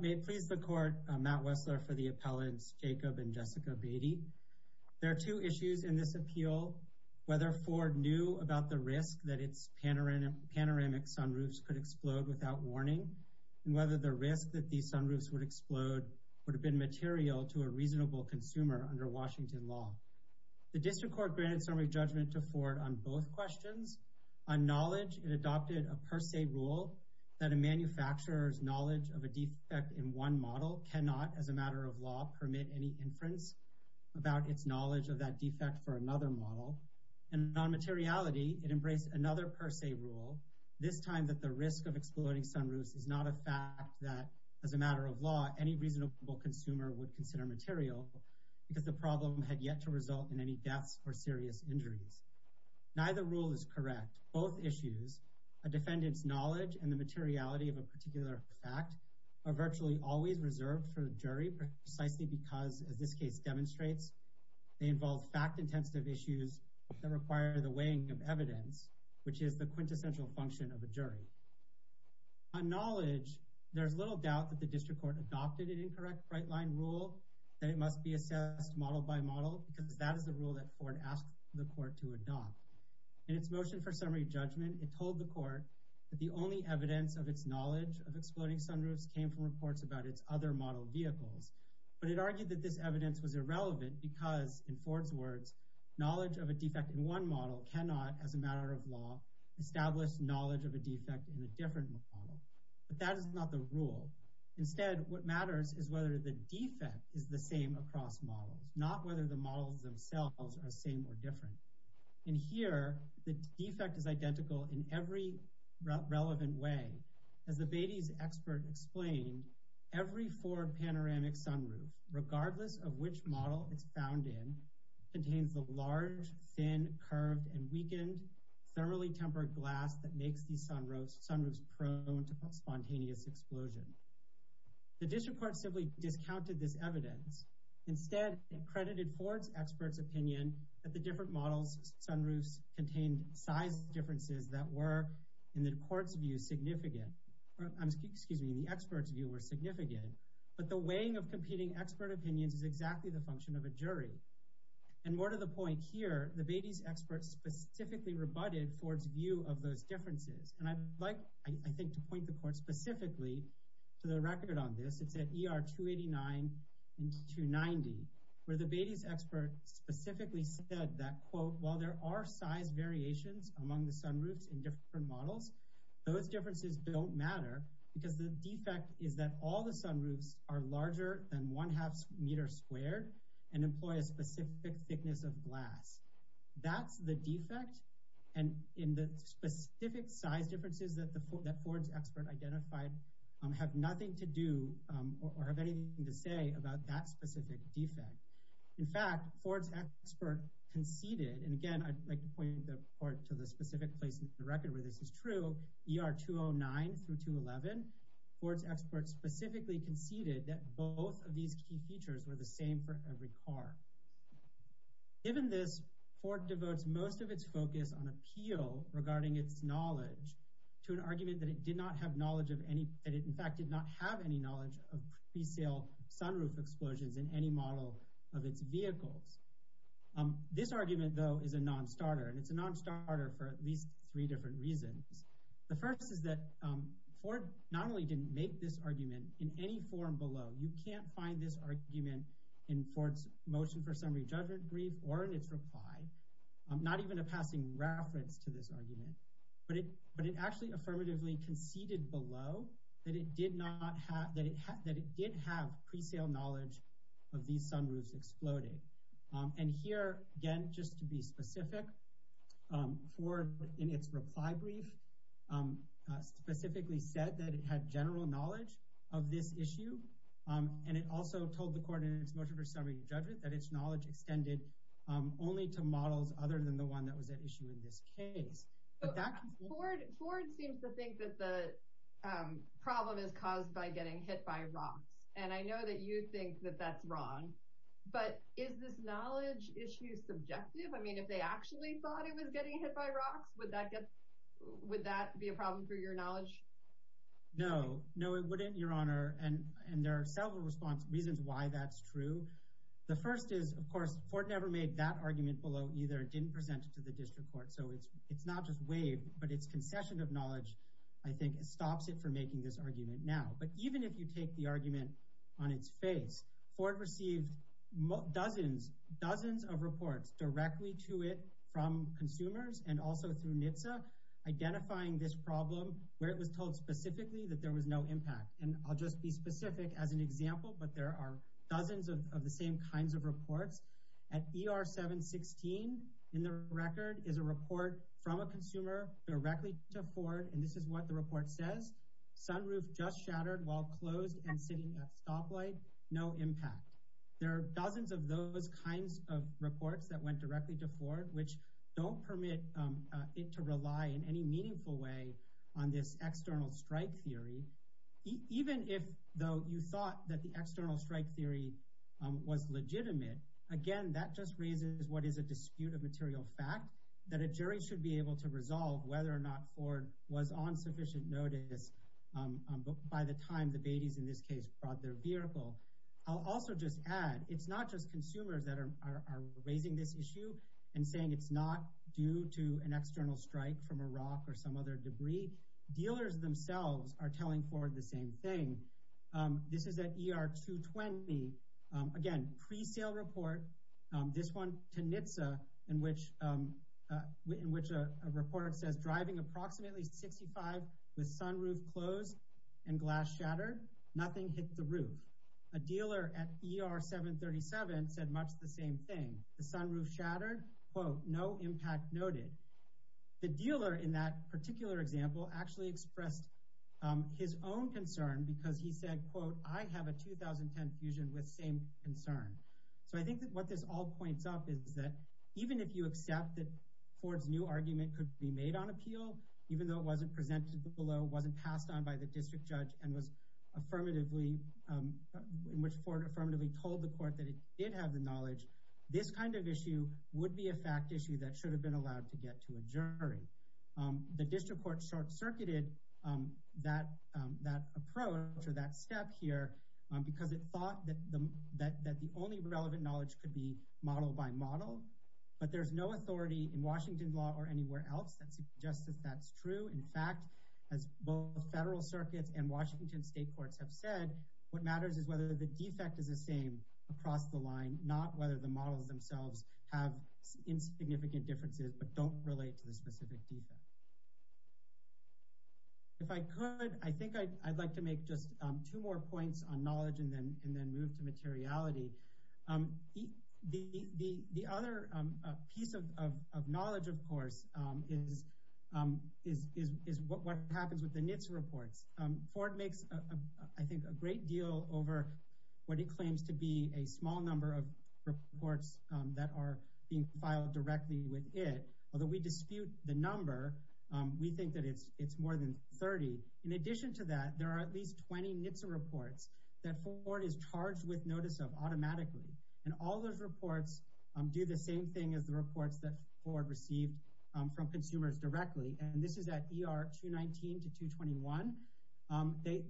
May it please the Court, Matt Wessler for the appellants, Jacob and Jessica Beaty. There are two issues in this appeal. Whether Ford knew about the risk that its panoramic sunroofs could explode without warning, and whether the risk that these sunroofs would explode would have been material to a reasonable consumer under Washington law. The District Court granted summary judgment to Ford on both questions. On knowledge, it adopted a per se rule that a manufacturer's knowledge of a defect in one model cannot, as a matter of law, permit any inference about its knowledge of that defect for another model. And on materiality, it embraced another per se rule, this time that the risk of exploding sunroofs is not a fact that, as a matter of law, any reasonable consumer would consider material because the problem had yet to result in any deaths or serious injuries. Neither rule is correct. Both issues, a defendant's knowledge and the materiality of a particular fact, are virtually always reserved for the jury precisely because, as this case demonstrates, they involve fact-intensive issues that require the weighing of evidence, which is the quintessential function of the jury. On knowledge, there's little doubt that the District Court adopted an incorrect right-line rule, that it must be assessed model by model, because that is the rule that Ford asked the court to adopt. In its motion for summary judgment, it told the court that the only evidence of its knowledge of exploding sunroofs came from reports about its other model vehicles. But it argued that this evidence was irrelevant because, in Ford's words, knowledge of a defect in one model cannot, as a matter of law, establish knowledge of a defect in a different model. But that is not the rule. Instead, what matters is whether the defect is the same across models, not whether the models themselves are the same or different. And here, the defect is identical in every relevant way. As the Beatty's expert explained, every Ford panoramic sunroof, regardless of which model it's found in, contains the large, thin, curved, and weakened, thoroughly tempered glass that makes these sunroofs prone to spontaneous explosion. The District Court simply discounted this evidence. Instead, it credited Ford's expert's opinion that the different models of sunroofs contained size differences that were, in the court's view, significant. Excuse me, the expert's view was significant. But the weighing of competing expert opinions is exactly the function of a jury. And more to the point here, the Beatty's expert specifically rebutted Ford's view of those differences. And I'd like, I think, to point the court specifically to the record on this. It's at ER 289 and 290, where the Beatty's expert specifically said that, quote, While there are size variations among the sunroofs in different models, those differences don't matter because the defect is that all the sunroofs are larger than one half meter squared and employ a specific thickness of glass. That's the defect. And in the specific size differences that Ford's expert identified have nothing to do or have anything to say about that specific defect. In fact, Ford's expert conceded, and again, I'd like to point the court to the specific place in the record where this is true, ER 209 through 211, Ford's expert specifically conceded that both of these key features were the same for every car. Given this, court devotes most of its focus on appeal regarding its knowledge to an argument that it did not have knowledge of any, that it, in fact, did not have any knowledge of pre-sale sunroof explosions in any model of its vehicles. This argument, though, is a non-starter, and it's a non-starter for at least three different reasons. The first is that Ford not only didn't make this argument in any forum below. You can't find this argument in Ford's motion for summary judgment brief or in its reply, not even a passing reference to this argument. But it actually affirmatively conceded below that it did have pre-sale knowledge of these sunroofs exploding. And here, again, just to be specific, Ford, in its reply brief, specifically said that it had general knowledge of this issue, and it also told the court in its motion for summary judgment that its knowledge extended only to models other than the one that was at issue in this case. Ford seems to think that the problem is caused by getting hit by rocks, and I know that you think that that's wrong, but is this knowledge issue subjective? I mean, if they actually thought it was getting hit by rocks, would that be a problem for your knowledge? No. No, it wouldn't, Your Honor, and there are several reasons why that's true. The first is, of course, Ford never made that argument below either, didn't present it to the district court, so it's not just waived, but its concession of knowledge, I think, stops it from making this argument now. But even if you take the argument on its face, Ford received dozens, dozens of reports directly to it from consumers and also through NHTSA identifying this problem where it was told specifically that there was no impact. And I'll just be specific as an example, but there are dozens of the same kinds of reports. At ER 716 in the record is a report from a consumer directly to Ford, and this is what the report says. Sunroof just shattered while closed and sitting at stoplight. No impact. There are dozens of those kinds of reports that went directly to Ford, which don't permit it to rely in any meaningful way on this external strike theory. Even if, though you thought that the external strike theory was legitimate, again, that just raises what is a dispute of material fact that a jury should be able to resolve whether or not Ford was on sufficient notice by the time the babies, in this case, brought their vehicle. I'll also just add it's not just consumers that are raising this issue and saying it's not due to an external strike from a rock or some other debris. Dealers themselves are telling Ford the same thing. This is at ER 220. Again, presale report. This one to NHTSA in which a report says driving approximately 65 with sunroof closed and glass shattered. Nothing hit the roof. A dealer at ER 737 said much the same thing. The sunroof shattered. Quote, no impact noted. The dealer in that particular example actually expressed his own concern because he said, quote, I have a 2010 fusion with same concern. So I think that what this all points out is that even if you accept that Ford's new argument could be made on appeal, even though it wasn't presented below, wasn't passed on by the district judge and was affirmatively, which Ford affirmatively told the court that it did have the knowledge, this kind of issue would be a fact issue that should have been allowed to get to a jury. The district court short circuited that that approach or that step here because it thought that that that the only relevant knowledge could be model by model. But there's no authority in Washington law or anywhere else that suggests that that's true. In fact, as both the federal circuits and Washington state courts have said, what matters is whether the defect is the same across the line, not whether the models themselves have insignificant differences but don't relate to the specific people. If I could, I think I'd like to make just two more points on knowledge and then move to materiality. The other piece of knowledge, of course, is what happens with the NHTSA reports. Ford makes, I think, a great deal over what he claims to be a small number of reports that are being filed directly with it. Although we dispute the number, we think that it's more than 30. In addition to that, there are at least 20 NHTSA reports that Ford is charged with notice of automatically. And all those reports do the same thing as the reports that Ford received from consumers directly. And this is at ER 219 to 221.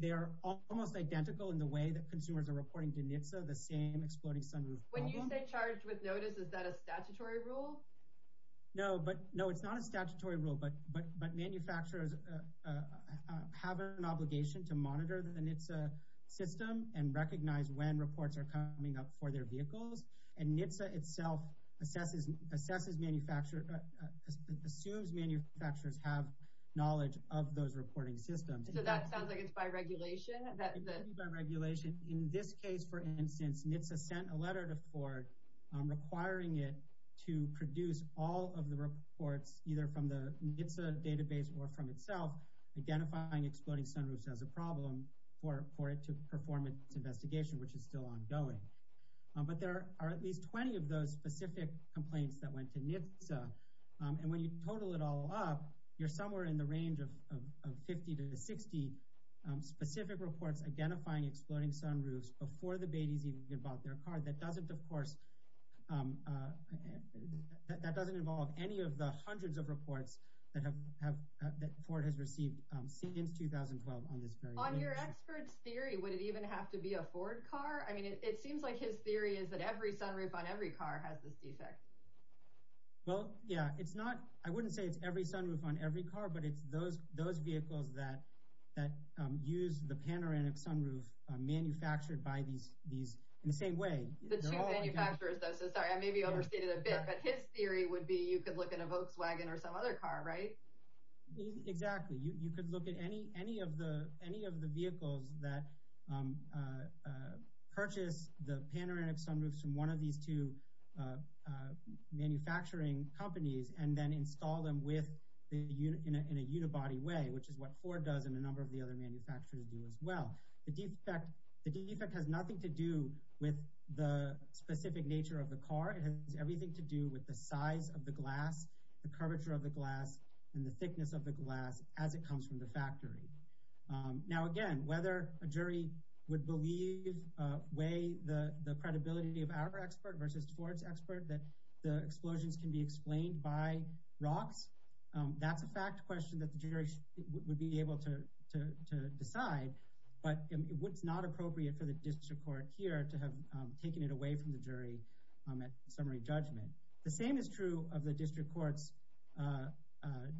They are almost identical in the way that consumers are reporting to NHTSA, the same exploding summary. When you say charged with notice, is that a statutory rule? No, it's not a statutory rule, but manufacturers have an obligation to monitor the NHTSA system and recognize when reports are coming up for their vehicles. And NHTSA itself assumes manufacturers have knowledge of those reporting systems. So that sounds like it's by regulation? It is by regulation. In this case, for instance, NHTSA sent a letter to Ford requiring it to produce all of the reports, either from the NHTSA database or from itself, identifying exploding summaries as a problem for it to perform its investigation, which is still ongoing. But there are at least 20 of those specific complaints that went to NHTSA. And when you total it all up, you're somewhere in the range of 50 to 60 specific reports identifying exploding sunroofs before the babies even give out their car. That doesn't involve any of the hundreds of reports that Ford has received since 2012. On your expert's theory, would it even have to be a Ford car? I mean, it seems like his theory is that every sunroof on every car has this defect. Well, yeah, it's not – I wouldn't say it's every sunroof on every car, but it's those vehicles that use the panoramic sunroof manufactured by these – in the same way. The two manufacturers, though, so sorry, I maybe overstated a bit. But his theory would be you could look at a Volkswagen or some other car, right? Exactly. You could look at any of the vehicles that purchase the panoramic sunroofs from one of these two manufacturing companies and then install them in a unibody way, which is what Ford does and a number of the other manufacturers do as well. The defect has nothing to do with the specific nature of the car. It has everything to do with the size of the glass, the curvature of the glass, and the thickness of the glass as it comes from the factory. Now, again, whether a jury would believe, weigh the credibility of our expert versus Ford's expert, that the explosions can be explained by rocks, that's a fact question that the jury would be able to decide. But it's not appropriate for the district court here to have taken it away from the jury at summary judgment. The same is true of the district court's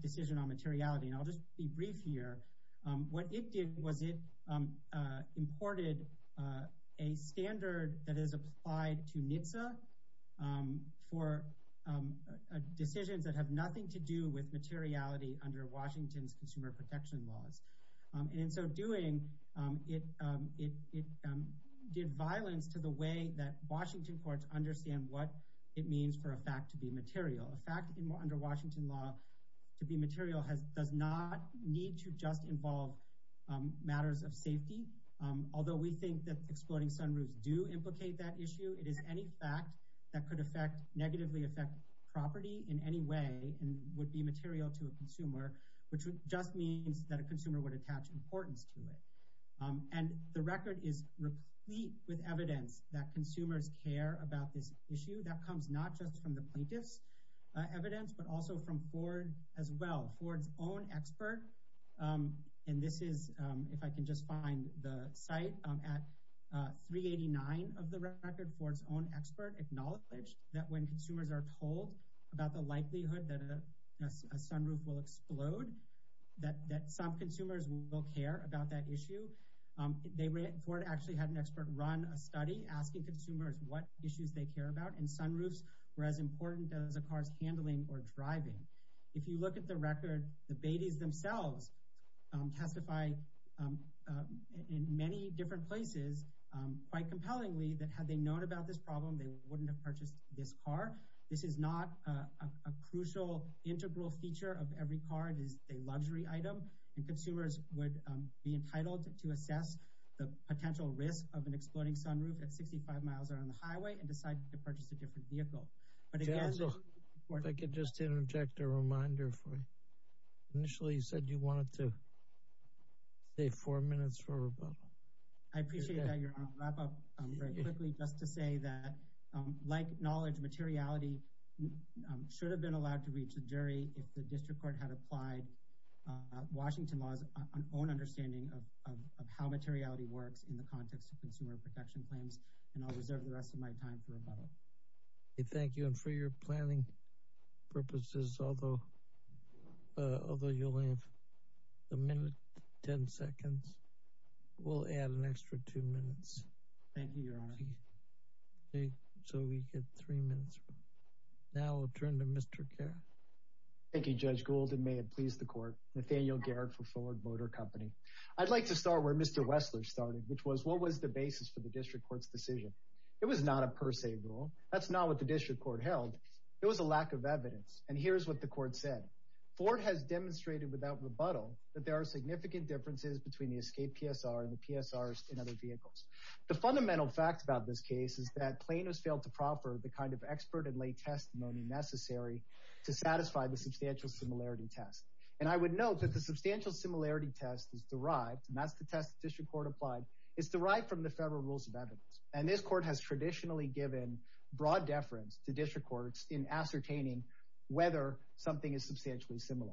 decision on materiality. And I'll just be brief here. What it did was it imported a standard that is applied to NHTSA for decisions that have nothing to do with materiality under Washington's consumer protection laws. And in so doing, it did violence to the way that Washington courts understand what it means for a fact to be material. A fact under Washington law to be material does not need to just involve matters of safety. Although we think that exploding sunroofs do implicate that issue, it is any fact that could negatively affect property in any way and would be material to a consumer, which just means that a consumer would attach importance to it. And the record is replete with evidence that consumers care about this issue. That comes not just from the plaintiff's evidence, but also from Ford as well, Ford's own expert. And this is if I can just find the site at 389 of the record. Ford's own expert acknowledges that when consumers are told about the likelihood that a sunroof will explode, that some consumers will care about that issue. Ford actually had an expert run a study asking consumers what issues they care about, and sunroofs were as important as a car's handling or driving. If you look at the record, the Beatys themselves testified in many different places, quite compellingly, that had they known about this problem, they wouldn't have purchased this car. This is not a crucial integral feature of every car. It is a luxury item. And consumers would be entitled to assess the potential risk of an exploding sunroof at 65 miles on the highway and decide to purchase a different vehicle. If I could just interject a reminder. Initially, you said you wanted to save four minutes for rebuttal. I appreciate that, Your Honor. I'll wrap up very quickly just to say that, like knowledge, materiality should have been allowed to reach a jury if the district court had applied Washington law's own understanding of how materiality works in the context of consumer protection claims. And I'll reserve the rest of my time to rebuttal. Thank you. And for your planning purposes, although you'll have a minute, ten seconds, we'll add an extra two minutes. Thank you, Your Honor. So we get three minutes. Now we'll turn to Mr. Garrett. Thank you, Judge Gould. And may it please the court, Nathaniel Garrett from Fuller Motor Company. I'd like to start where Mr. Wessler started, which was what was the basis for the district court's decision? It was not a per se rule. That's not what the district court held. It was a lack of evidence. And here's what the court said. Ford has demonstrated without rebuttal that there are significant differences between the escape PSR and the PSRs in other vehicles. The fundamental fact about this case is that plaintiffs failed to proper the kind of expert and lay testimony necessary to satisfy the substantial similarity test. And I would note that the substantial similarity test is derived, and that's the test the district court applied, is derived from the federal rules of evidence. And this court has traditionally given broad deference to district courts in ascertaining whether something is substantially similar.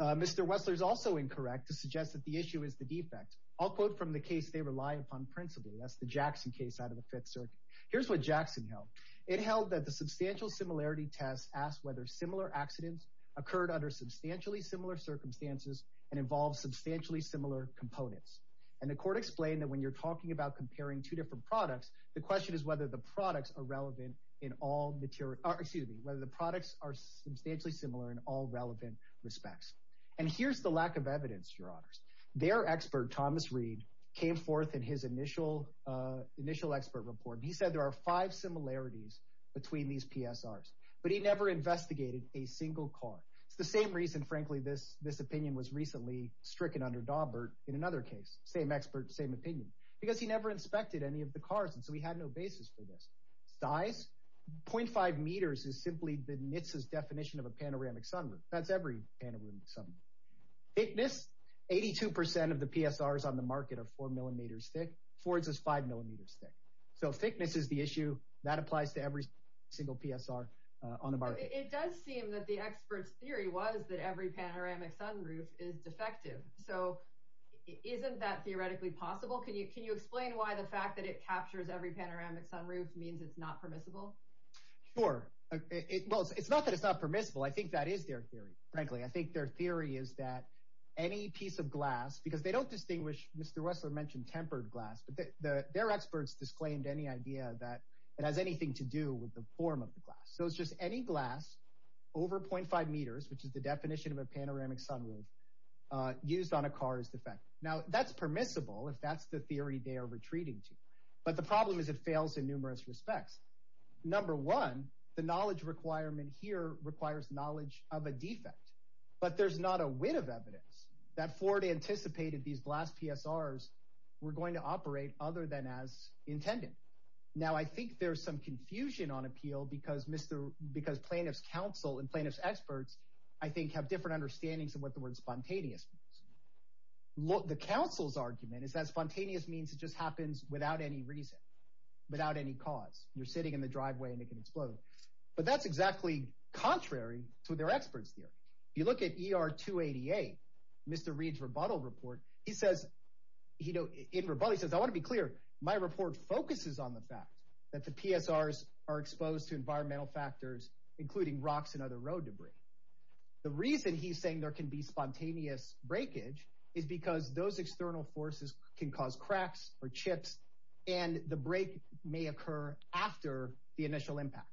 Mr. Wessler is also incorrect to suggest that the issue is the defect. I'll quote from the case they rely upon principally. That's the Jackson case out of the Fifth Circuit. Here's what Jackson held. It held that the substantial similarity test asked whether similar accidents occurred under substantially similar circumstances and involved substantially similar components. And the court explained that when you're talking about comparing two different products, the question is whether the products are relevant in all material. Excuse me, whether the products are substantially similar in all relevant respects. And here's the lack of evidence. Their expert, Thomas Reed, came forth in his initial initial expert report. He said there are five similarities between these PSRs, but he never investigated a single car. It's the same reason, frankly, this opinion was recently stricken under Daubert in another case. Same expert, same opinion. Because he never inspected any of the cars, and so he had no basis for this. Size, 0.5 meters is simply the definition of a panoramic sunroof. That's every panoramic sunroof. Thickness, 82% of the PSRs on the market are four millimeters thick. Ford's is five millimeters thick. So thickness is the issue. That applies to every single PSR on the market. It does seem that the expert's theory was that every panoramic sunroof is defective. So isn't that theoretically possible? Can you explain why the fact that it captures every panoramic sunroof means it's not permissible? Sure. Well, it's not that it's not permissible. I think that is their theory, frankly. I think their theory is that any piece of glass, because they don't distinguish. Mr. Wessler mentioned tempered glass. Their experts disclaimed any idea that it has anything to do with the form of the glass. So it's just any glass over 0.5 meters, which is the definition of a panoramic sunroof, used on a car is defective. Now, that's permissible if that's the theory they are retreating to. But the problem is it fails in numerous respects. Number one, the knowledge requirement here requires knowledge of a defect. But there's not a whit of evidence that Ford anticipated these glass PSRs were going to operate other than as intended. Now, I think there's some confusion on appeal because plaintiff's counsel and plaintiff's experts, I think, have different understandings of what the word spontaneous means. The counsel's argument is that spontaneous means it just happens without any reason, without any cause. You're sitting in the driveway and it can explode. But that's exactly contrary to what their experts do. You look at ER 288, Mr. Reed's rebuttal report. In rebuttal, he says, I want to be clear. My report focuses on the fact that the PSRs are exposed to environmental factors, including rocks and other road debris. The reason he's saying there can be spontaneous breakage is because those external forces can cause cracks or chips, and the break may occur after the initial impact.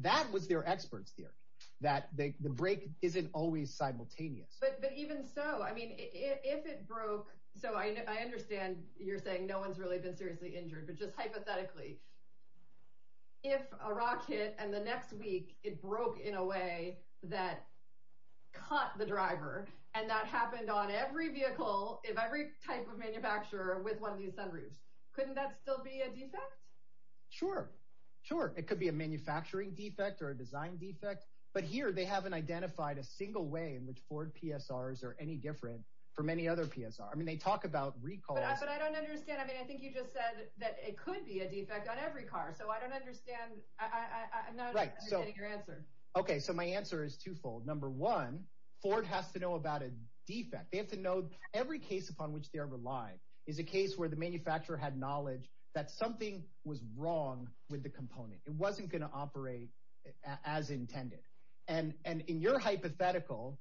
That was their expert's theory, that the break isn't always simultaneous. But even so, I mean, if it broke, so I understand you're saying no one's really been seriously injured. But just hypothetically, if a rock hit and the next week it broke in a way that caught the driver and that happened on every vehicle of every type of manufacturer with one of these sunroofs, couldn't that still be a defect? Sure, sure. It could be a manufacturing defect or a design defect. But here they haven't identified a single way in which Ford PSRs are any different from any other PSR. I mean, they talk about recalls. But I don't understand. I mean, I think you just said that it could be a defect on every car. So I don't understand. I'm not understanding your answer. OK, so my answer is twofold. Number one, Ford has to know about a defect. They have to know every case upon which they're relied is a case where the manufacturer had knowledge that something was wrong with the component. It wasn't going to operate as intended. And in your hypothetical,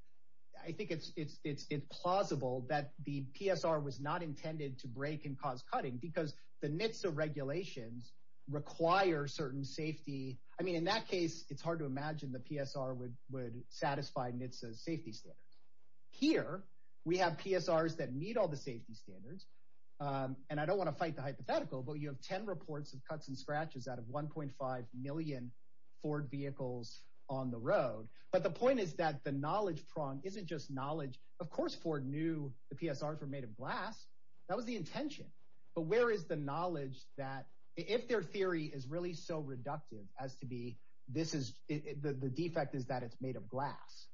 I think it's plausible that the PSR was not intended to break and cause cutting because the NHTSA regulations require certain safety. I mean, in that case, it's hard to imagine the PSR would satisfy NHTSA's safety standards. Here, we have PSRs that meet all the safety standards. And I don't want to fight the hypothetical, but you have 10 reports of cuts and scratches out of 1.5 million Ford vehicles on the road. But the point is that the knowledge prong isn't just knowledge. Of course, Ford knew the PSRs were made of glass. That was the intention. But where is the knowledge that if their theory is really so reductive as to be, this is the defect is that it's made of glass.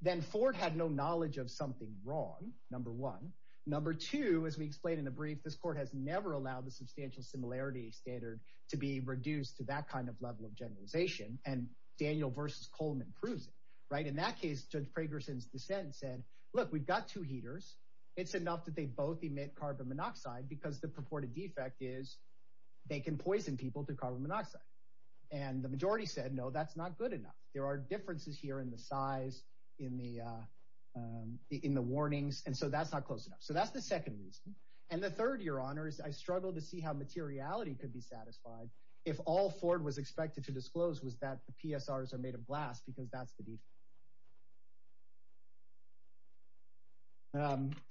Then Ford had no knowledge of something wrong. Number one. Number two, as we explained in the brief, this court has never allowed the substantial similarity standard to be reduced to that kind of level of generalization. And Daniel versus Coleman proves it right. In that case, Judge Fragerson's dissent said, look, we've got two heaters. It's enough that they both emit carbon monoxide because the purported defect is they can poison people to carbon monoxide. And the majority said, no, that's not good enough. There are differences here in the size, in the in the warnings. And so that's not close enough. So that's the second reason. And the third, Your Honor, is I struggle to see how materiality could be satisfied. If all Ford was expected to disclose was that the PSRs are made of glass because that's the.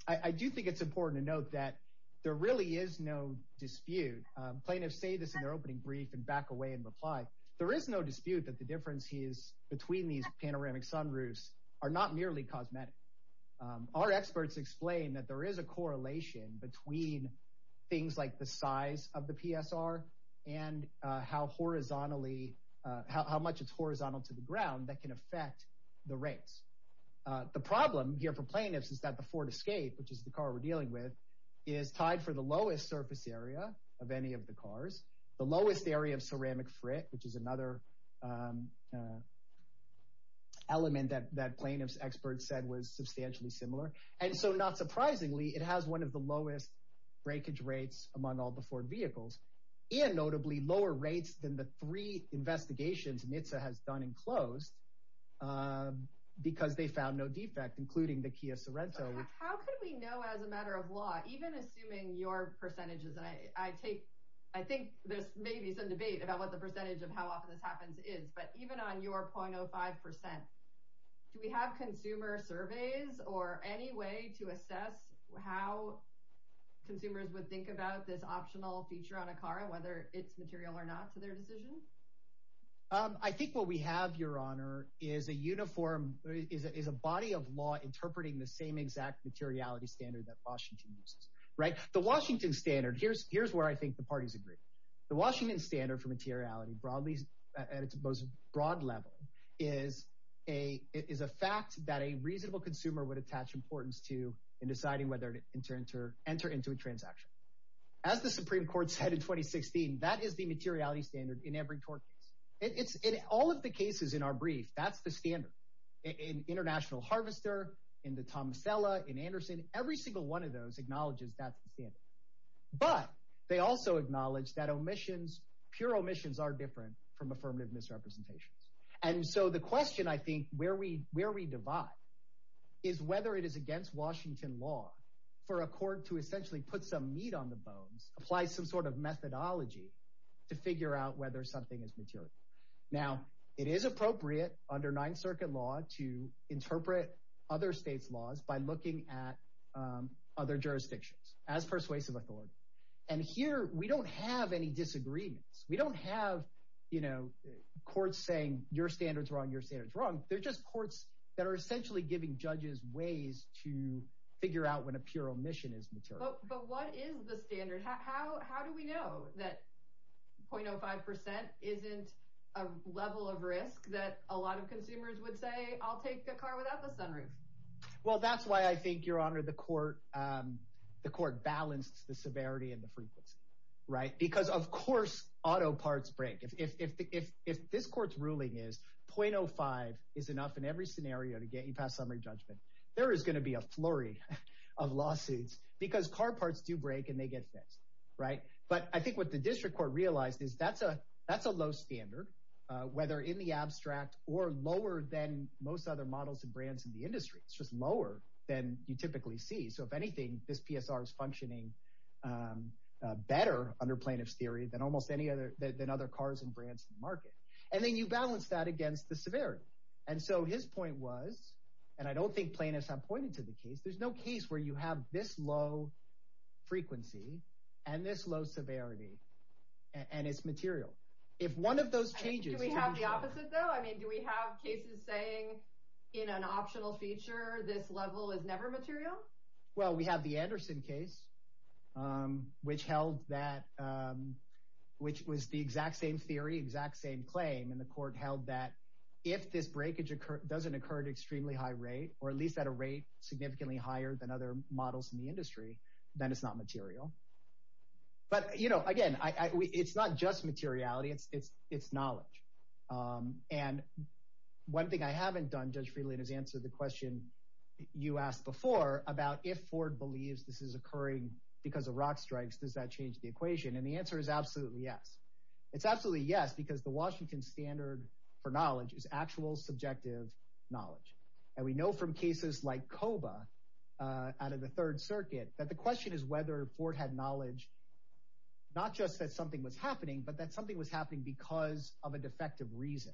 I do think it's important to note that there really is no dispute. Plaintiffs say this in their opening brief and back away and reply. There is no dispute that the differences between these panoramic sunroofs are not merely cosmetic. Our experts explain that there is a correlation between things like the size of the PSR and how horizontally, how much it's horizontal to the ground that can affect the rates. The problem here for plaintiffs is that the Ford Escape, which is the car we're dealing with, is tied for the lowest surface area of any of the cars. The lowest area of ceramic frit, which is another. Element that that plaintiff's expert said was substantially similar. And so not surprisingly, it has one of the lowest breakage rates among all the Ford vehicles and notably lower rates than the three investigations. And it has done and closed because they found no defect, including the Kia Sorento. How could we know as a matter of law, even assuming your percentages? And I take I think there's maybe some debate about what the percentage of how often this happens is. But even on your point, 05 percent, we have consumer surveys or any way to assess how consumers would think about this optional feature on a car, whether it's material or not for their decision. I think what we have, Your Honor, is a uniform is a body of law interpreting the same exact materiality standard that Washington used. Right. The Washington standard. Here's here's where I think the parties agree. The Washington standard for materiality broadly at its most broad level is a is a fact that a reasonable consumer would attach importance to in deciding whether to enter into a transaction. As the Supreme Court said in 2016, that is the materiality standard in every court. All of the cases in our brief, that's the standard in International Harvester, in the Thomas Ella, in Anderson, every single one of those acknowledges that. But they also acknowledge that omissions, pure omissions are different from affirmative misrepresentation. And so the question, I think, where we where we divide is whether it is against Washington law for a court to essentially put some meat on the bones, apply some sort of methodology to figure out whether something is material. Now, it is appropriate under Ninth Circuit law to interpret other states laws by looking at other jurisdictions as persuasive authority. And here we don't have any disagreements. We don't have, you know, courts saying your standards are on your standards wrong. They're just courts that are essentially giving judges ways to figure out when a pure omission is material. But what is the standard? How do we know that 0.05 percent isn't a level of risk that a lot of consumers would say, I'll take a car without the sunroof? Well, that's why I think, Your Honor, the court the court balanced the severity and the briefness. Right. Because, of course, auto parts break. If this court's ruling is 0.05 is enough in every scenario to get you past summary judgment. There is going to be a flurry of lawsuits because car parts do break and they get fixed. Right. But I think what the district court realized is that's a that's a low standard, whether in the abstract or lower than most other models and brands in the industry. It's just lower than you typically see. So if anything, this PSR is functioning better under plaintiff's theory than almost any other than other cars and brands in the market. And then you balance that against the severity. And so his point was, and I don't think plaintiffs have pointed to the case. There's no case where you have this low frequency and this low severity and it's material. If one of those changes we have the opposite, though, I mean, do we have cases saying in an optional feature this level is never material? Well, we have the Anderson case, which held that which was the exact same theory, exact same claim. And the court held that if this breakage doesn't occur at extremely high rate or at least at a rate significantly higher than other models in the industry, then it's not material. But, you know, again, it's not just materiality. It's it's it's knowledge. And one thing I haven't done, Judge Friedland has answered the question you asked before about if Ford believes this is occurring because of rock strikes, does that change the equation? And the answer is absolutely yes. It's absolutely yes, because the Washington standard for knowledge is actual subjective knowledge. And we know from cases like Coba out of the Third Circuit that the question is whether Ford had knowledge. Not just that something was happening, but that something was happening because of a defective reason.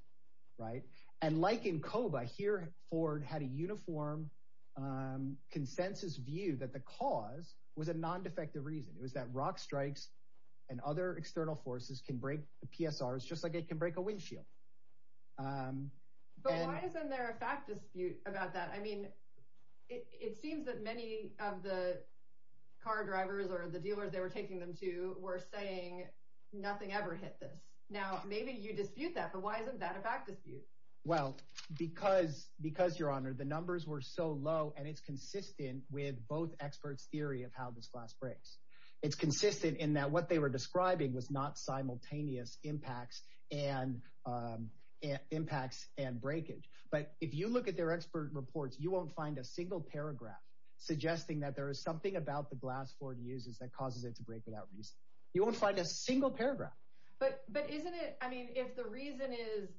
Right. And like in Coba here, Ford had a uniform consensus view that the cause was a non-defective reason. It was that rock strikes and other external forces can break the PSRs just like it can break a windshield. But why isn't there a fact dispute about that? I mean, it seems that many of the car drivers or the dealers they were taking them to were saying nothing ever hit them. Now, maybe you dispute that. But why isn't that a fact dispute? Well, because because your honor, the numbers were so low and it's consistent with both experts theory of how this class breaks. It's consistent in that what they were describing was not simultaneous impacts and impacts and breakage. But if you look at their expert reports, you won't find a single paragraph suggesting that there is something about the glass for the users that causes it to break it out. You won't find a single paragraph. But isn't it? I mean, if the reason is,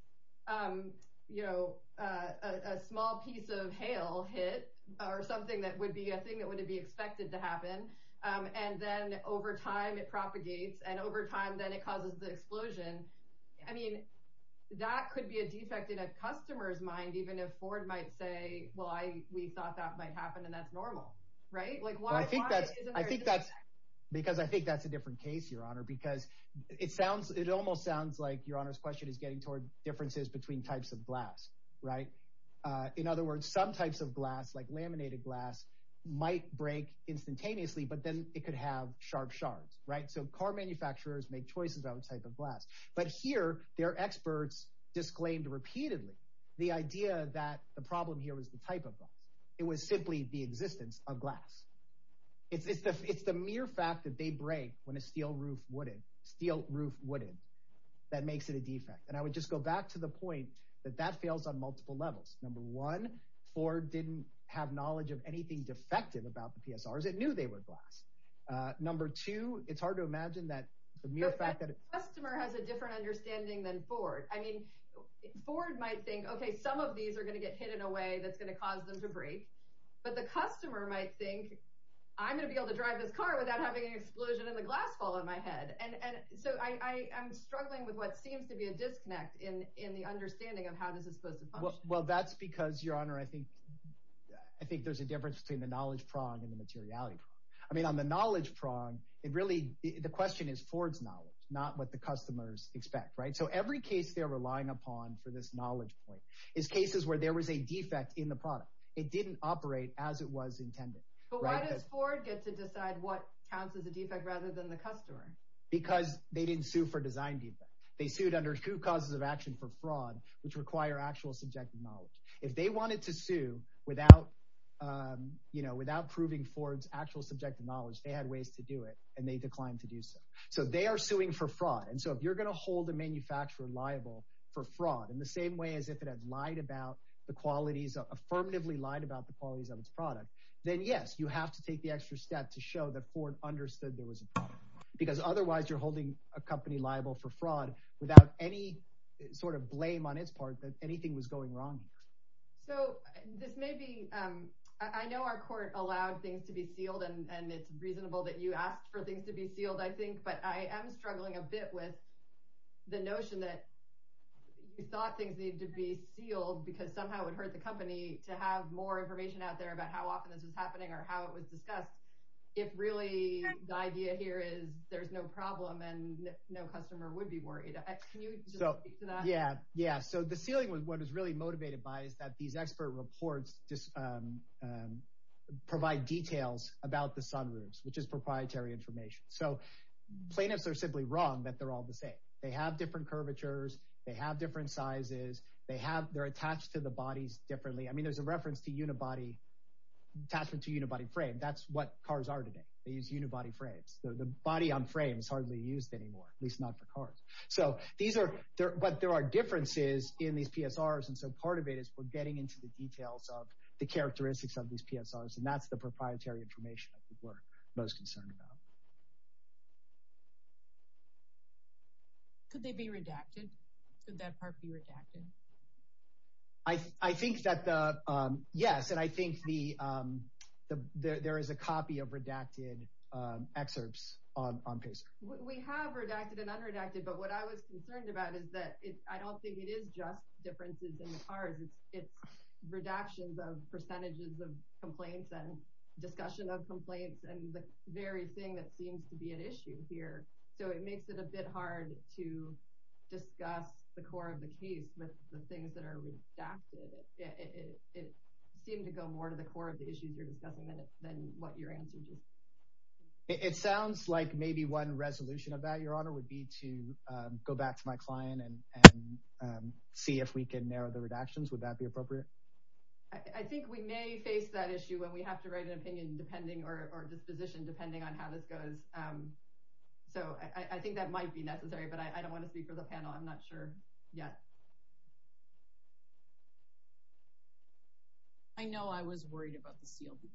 you know, a small piece of hail hit or something, that would be a thing that would be expected to happen. And then over time, it propagates. And over time, then it causes the explosion. I mean, that could be a defect in a customer's mind, even if Ford might say, well, I thought that might happen. And that's normal, right? Like, why? I think that's because I think that's a different case, your honor, because it sounds it almost sounds like your honor's question is getting toward differences between types of glass. Right. In other words, some types of glass like laminated glass might break instantaneously, but then it could have sharp shards. Right. So car manufacturers make choices about what type of glass. But here there are experts disclaimed repeatedly the idea that the problem here is the type of glass. It was simply the existence of glass. It's the mere fact that they break when a steel roof, wooden steel roof, wooden that makes it a defect. And I would just go back to the point that that fails on multiple levels. Number one, Ford didn't have knowledge of anything defective about the PSRs. It knew they were glass. Number two, it's hard to imagine that the mere fact that a customer has a different understanding than Ford. I mean, Ford might think, OK, some of these are going to get hit in a way that's going to cause them to break. But the customer might think, I'm going to be able to drive this car without having an explosion in the glass fall on my head. And so I am struggling with what seems to be a disconnect in in the understanding of how this is supposed to work. Well, that's because, your honor, I think I think there's a difference between the knowledge prong and the materiality. I mean, on the knowledge prong, it really the question is Ford's knowledge, not what the customers expect. Right. So every case they're relying upon for this knowledge is cases where there was a defect in the product. It didn't operate as it was intended. But why does Ford get to decide what counts as a defect rather than the customer? Because they didn't sue for design defect. They sued under two causes of action for fraud, which require actual subjective knowledge. If they wanted to sue without, you know, without proving Ford's actual subjective knowledge, they had ways to do it and they declined to do so. So they are suing for fraud. And so if you're going to hold the manufacturer liable for fraud in the same way as if it had lied about the qualities, affirmatively lied about the qualities of its product, then, yes, you have to take the extra step to show that Ford understood there was a problem. Because otherwise you're holding a company liable for fraud without any sort of blame on its part that anything was going wrong. So this may be I know our court allowed things to be sealed and it's reasonable that you asked for things to be sealed, I think. But I am struggling a bit with the notion that you thought things needed to be sealed because somehow it would hurt the company to have more information out there about how often this was happening or how it was discussed. If really the idea here is there's no problem and no customer would be worried. Yeah. Yeah. So the ceiling was what is really motivated by is that these expert reports just provide details about the sunroofs, which is proprietary information. So plaintiffs are simply wrong that they're all the same. They have different curvatures. They have different sizes. They have they're attached to the bodies differently. I mean, there's a reference to unibody attachment to unibody frame. That's what cars are today. They use unibody frames. The body on frame is hardly used anymore, at least not the cars. So these are there. But there are differences in these PSRs. And so part of it is we're getting into the details of the characteristics of these PSRs. And that's the proprietary information we're most concerned about. Could they be redacted? Could that part be redacted? I think that the yes. And I think the there is a copy of redacted excerpts on. We have redacted and underreacted. But what I was concerned about is that I don't think it is just differences in cars. It's redactions of percentages of complaints and discussion of complaints and the very thing that seems to be an issue here. So it makes it a bit hard to discuss the core of the case, the things that are redacted. It seemed to go more to the core of the issues you're discussing than what your answer is. It sounds like maybe one resolution about your honor would be to go back to my client and see if we can narrow the redactions. Would that be appropriate? I think we may face that issue when we have to write an opinion, depending or disposition, depending on how this goes. So I think that might be necessary, but I don't want to speak for the panel. I'm not sure yet. I know I was worried about the CLP.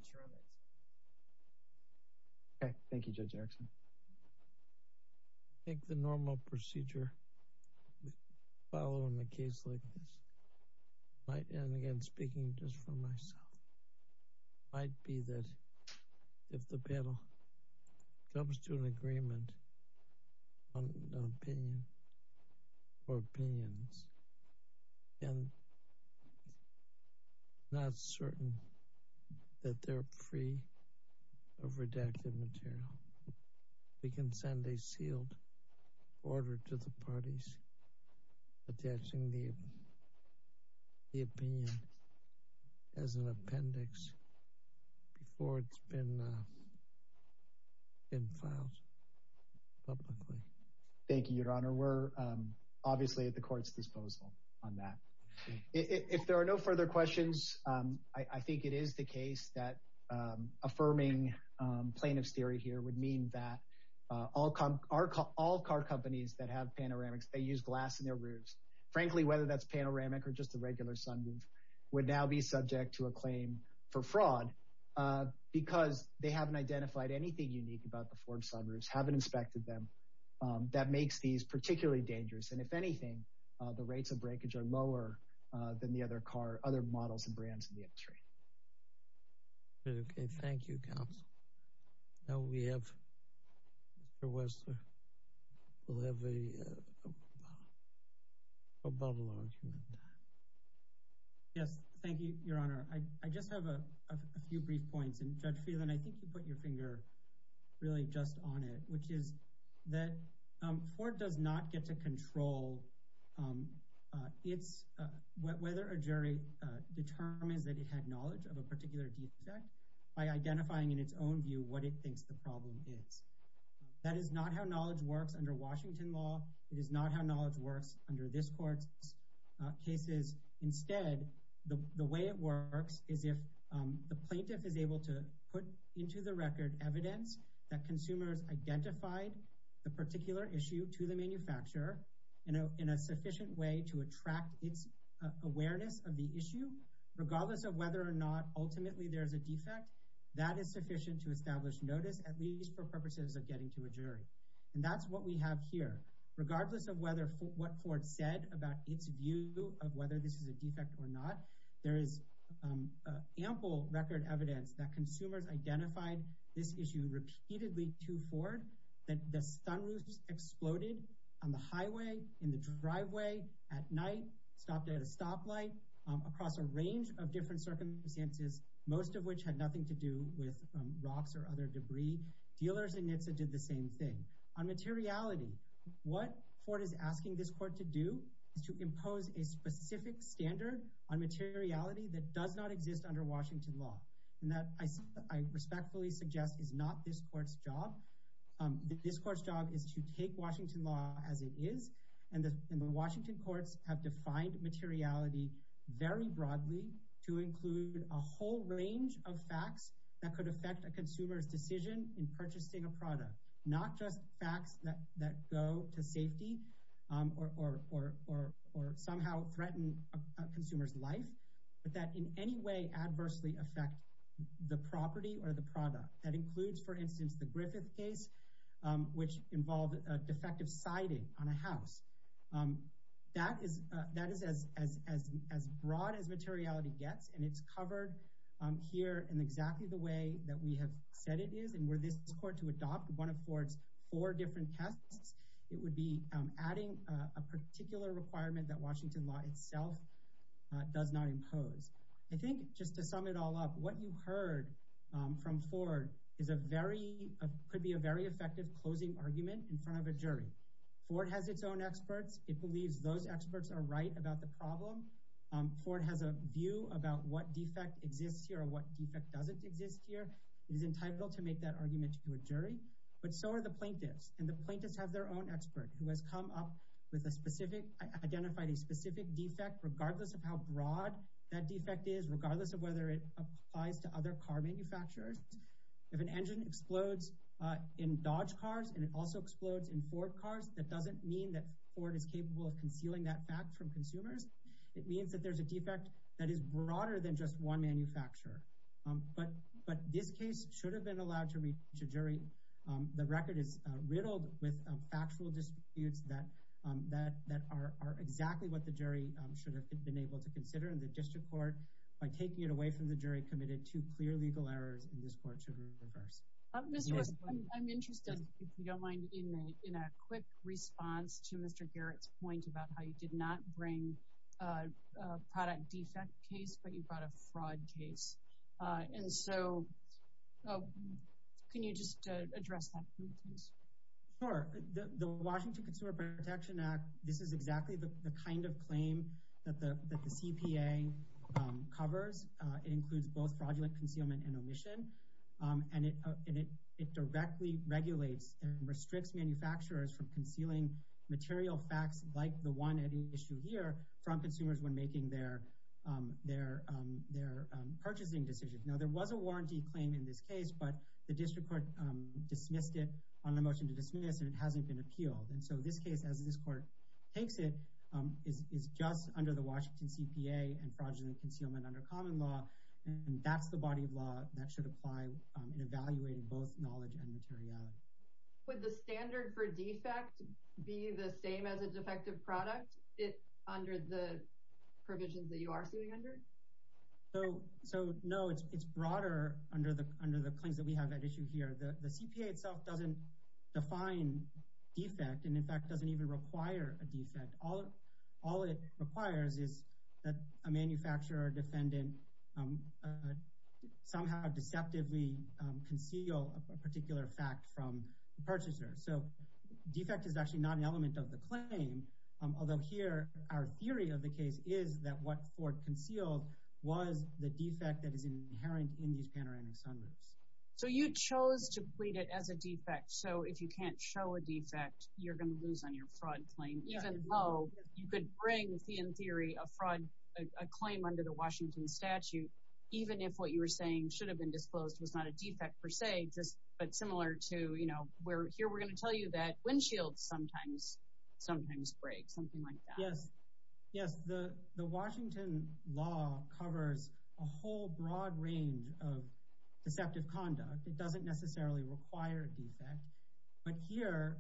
Thank you, Judge Axel. I think the normal procedure following the case, like I am again speaking just for myself, might be that if the panel comes to an agreement on an opinion or opinions, I'm not certain that they're free of redacted material. We can send a sealed order to the parties attaching the opinion as an appendix before it's been filed publicly. Thank you, Your Honor. We're obviously at the court's disposal on that. If there are no further questions, I think it is the case that affirming plaintiff's theory here would mean that all car companies that have panoramics, they use glass in their roofs. That makes these particularly dangerous. And if anything, the rates of breakage are lower than the other models and brands in the industry. Yes, thank you, Your Honor. I just have a few brief points, and Judge Fielden, I think you put your finger really just on it, which is that court does not get to control whether a jury determines that it had knowledge of a particular case by identifying in its own view what it thinks the problem is. That is not how knowledge works under Washington law. It is not how knowledge works under this court's cases. Instead, the way it works is if the plaintiff is able to put into the record evidence that consumers identified the particular issue to the manufacturer in a sufficient way to attract its awareness of the issue, regardless of whether or not ultimately there's a defect, that is sufficient to establish notice, at least for purposes of getting to a jury. And that's what we have here. Regardless of what court said about its view of whether this is a defect or not, there is ample record evidence that consumers identified this issue repeatedly to Ford, that the stun loops exploded on the highway, in the driveway, at night, stopped at a stoplight, across a range of different circumstances, most of which had nothing to do with rocks or other debris. Dealers and NHTSA did the same thing. On materiality, what court is asking this court to do is to impose a specific standard on materiality that does not exist under Washington law. And that I respectfully suggest is not this court's job. This court's job is to take Washington law as it is. And the Washington courts have defined materiality very broadly to include a whole range of facts that could affect a consumer's decision in purchasing a product, not just facts that go to safety or somehow threaten a consumer's life, but that in any way adversely affect the property or the product. That includes, for instance, the Griffith case, which involved a defective siding on a house. That is as broad as materiality gets, and it's covered here in exactly the way that we have said it is. And were this court to adopt one of Ford's four different tests, it would be adding a particular requirement that Washington law itself does not impose. I think just to sum it all up, what you've heard from Ford could be a very effective closing argument in front of a jury. Ford has its own experts. It believes those experts are right about the problem. Ford has a view about what defect exists here or what defect doesn't exist here. It is entitled to make that argument to a jury, but so are the plaintiffs. And the plaintiffs have their own expert who has come up with a specific, identified a specific defect, regardless of how broad that defect is, regardless of whether it applies to other car manufacturers. If an engine explodes in Dodge cars and it also explodes in Ford cars, that doesn't mean that Ford is capable of concealing that fact from consumers. It means that there's a defect that is broader than just one manufacturer. But this case should have been allowed to reach a jury. The record is riddled with factual disputes that are exactly what the jury should have been able to consider in the district court. By taking it away from the jury committed to clear legal errors in this court should be reversed. I'm interested, if you don't mind, in a quick response to Mr. Garrett's point about how you did not bring a product defect case, but you brought a fraud case. And so can you just address that for me, please? Sure. The Washington Consumer Protection Act, this is exactly the kind of claim that the CPA covers. It includes both fraudulent concealment and omission. And it directly regulates and restricts manufacturers from concealing material facts like the one at issue here from consumers when making their purchasing decisions. Now, there was a warranty claim in this case, but the district court dismissed it on a motion to dismiss, and it hasn't been appealed. And so this case, as this court takes it, is just under the Washington CPA and fraudulent concealment under common law. And that's the body of law that should apply in evaluating both knowledge and materiality. Would the standard for defect be the same as a defective product under the provisions that you are suing under? So, no, it's broader under the claims that we have at issue here. The CPA itself doesn't define defect and, in fact, doesn't even require a defect. All it requires is that a manufacturer or defendant somehow deceptively conceal a particular fact from the purchaser. So, defect is actually not an element of the claim, although here our theory of the case is that what Ford concealed was the defect that is inherent in the countering assignment. So you chose to plead it as a defect, so if you can't show a defect, you're going to lose on your fraud claim, even though you could bring, in theory, a fraud claim under the Washington statute, even if what you were saying should have been disclosed was not a defect per se, but similar to, you know, where here we're going to tell you that windshields sometimes break, something like that. Yes, the Washington law covers a whole broad range of deceptive conduct. It doesn't necessarily require a defect, but here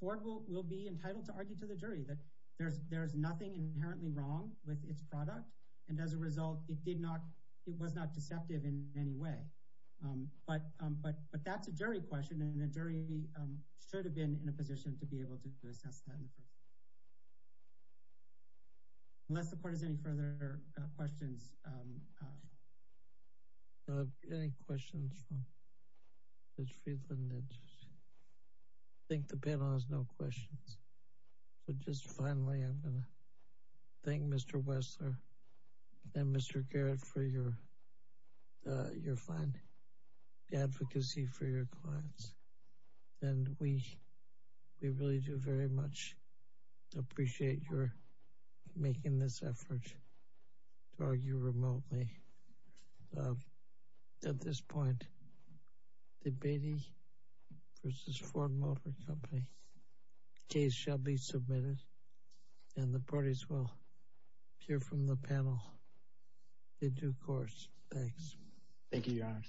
Ford will be entitled to argue to the jury that there's nothing inherently wrong with its product and, as a result, it was not deceptive in any way. But that's a jury question, and the jury should have been in a position to be able to assess that. Unless the court has any further questions. Any questions? I think the panel has no questions. Just finally, I want to thank Mr. Wessler and Mr. Garrett for your advocacy for your clients, and we really do very much appreciate your making this effort to argue remotely. At this point, the Beatty v. Ford Motor Company case shall be submitted, and the parties will hear from the panel in due course. Thanks. Thank you, Your Honor.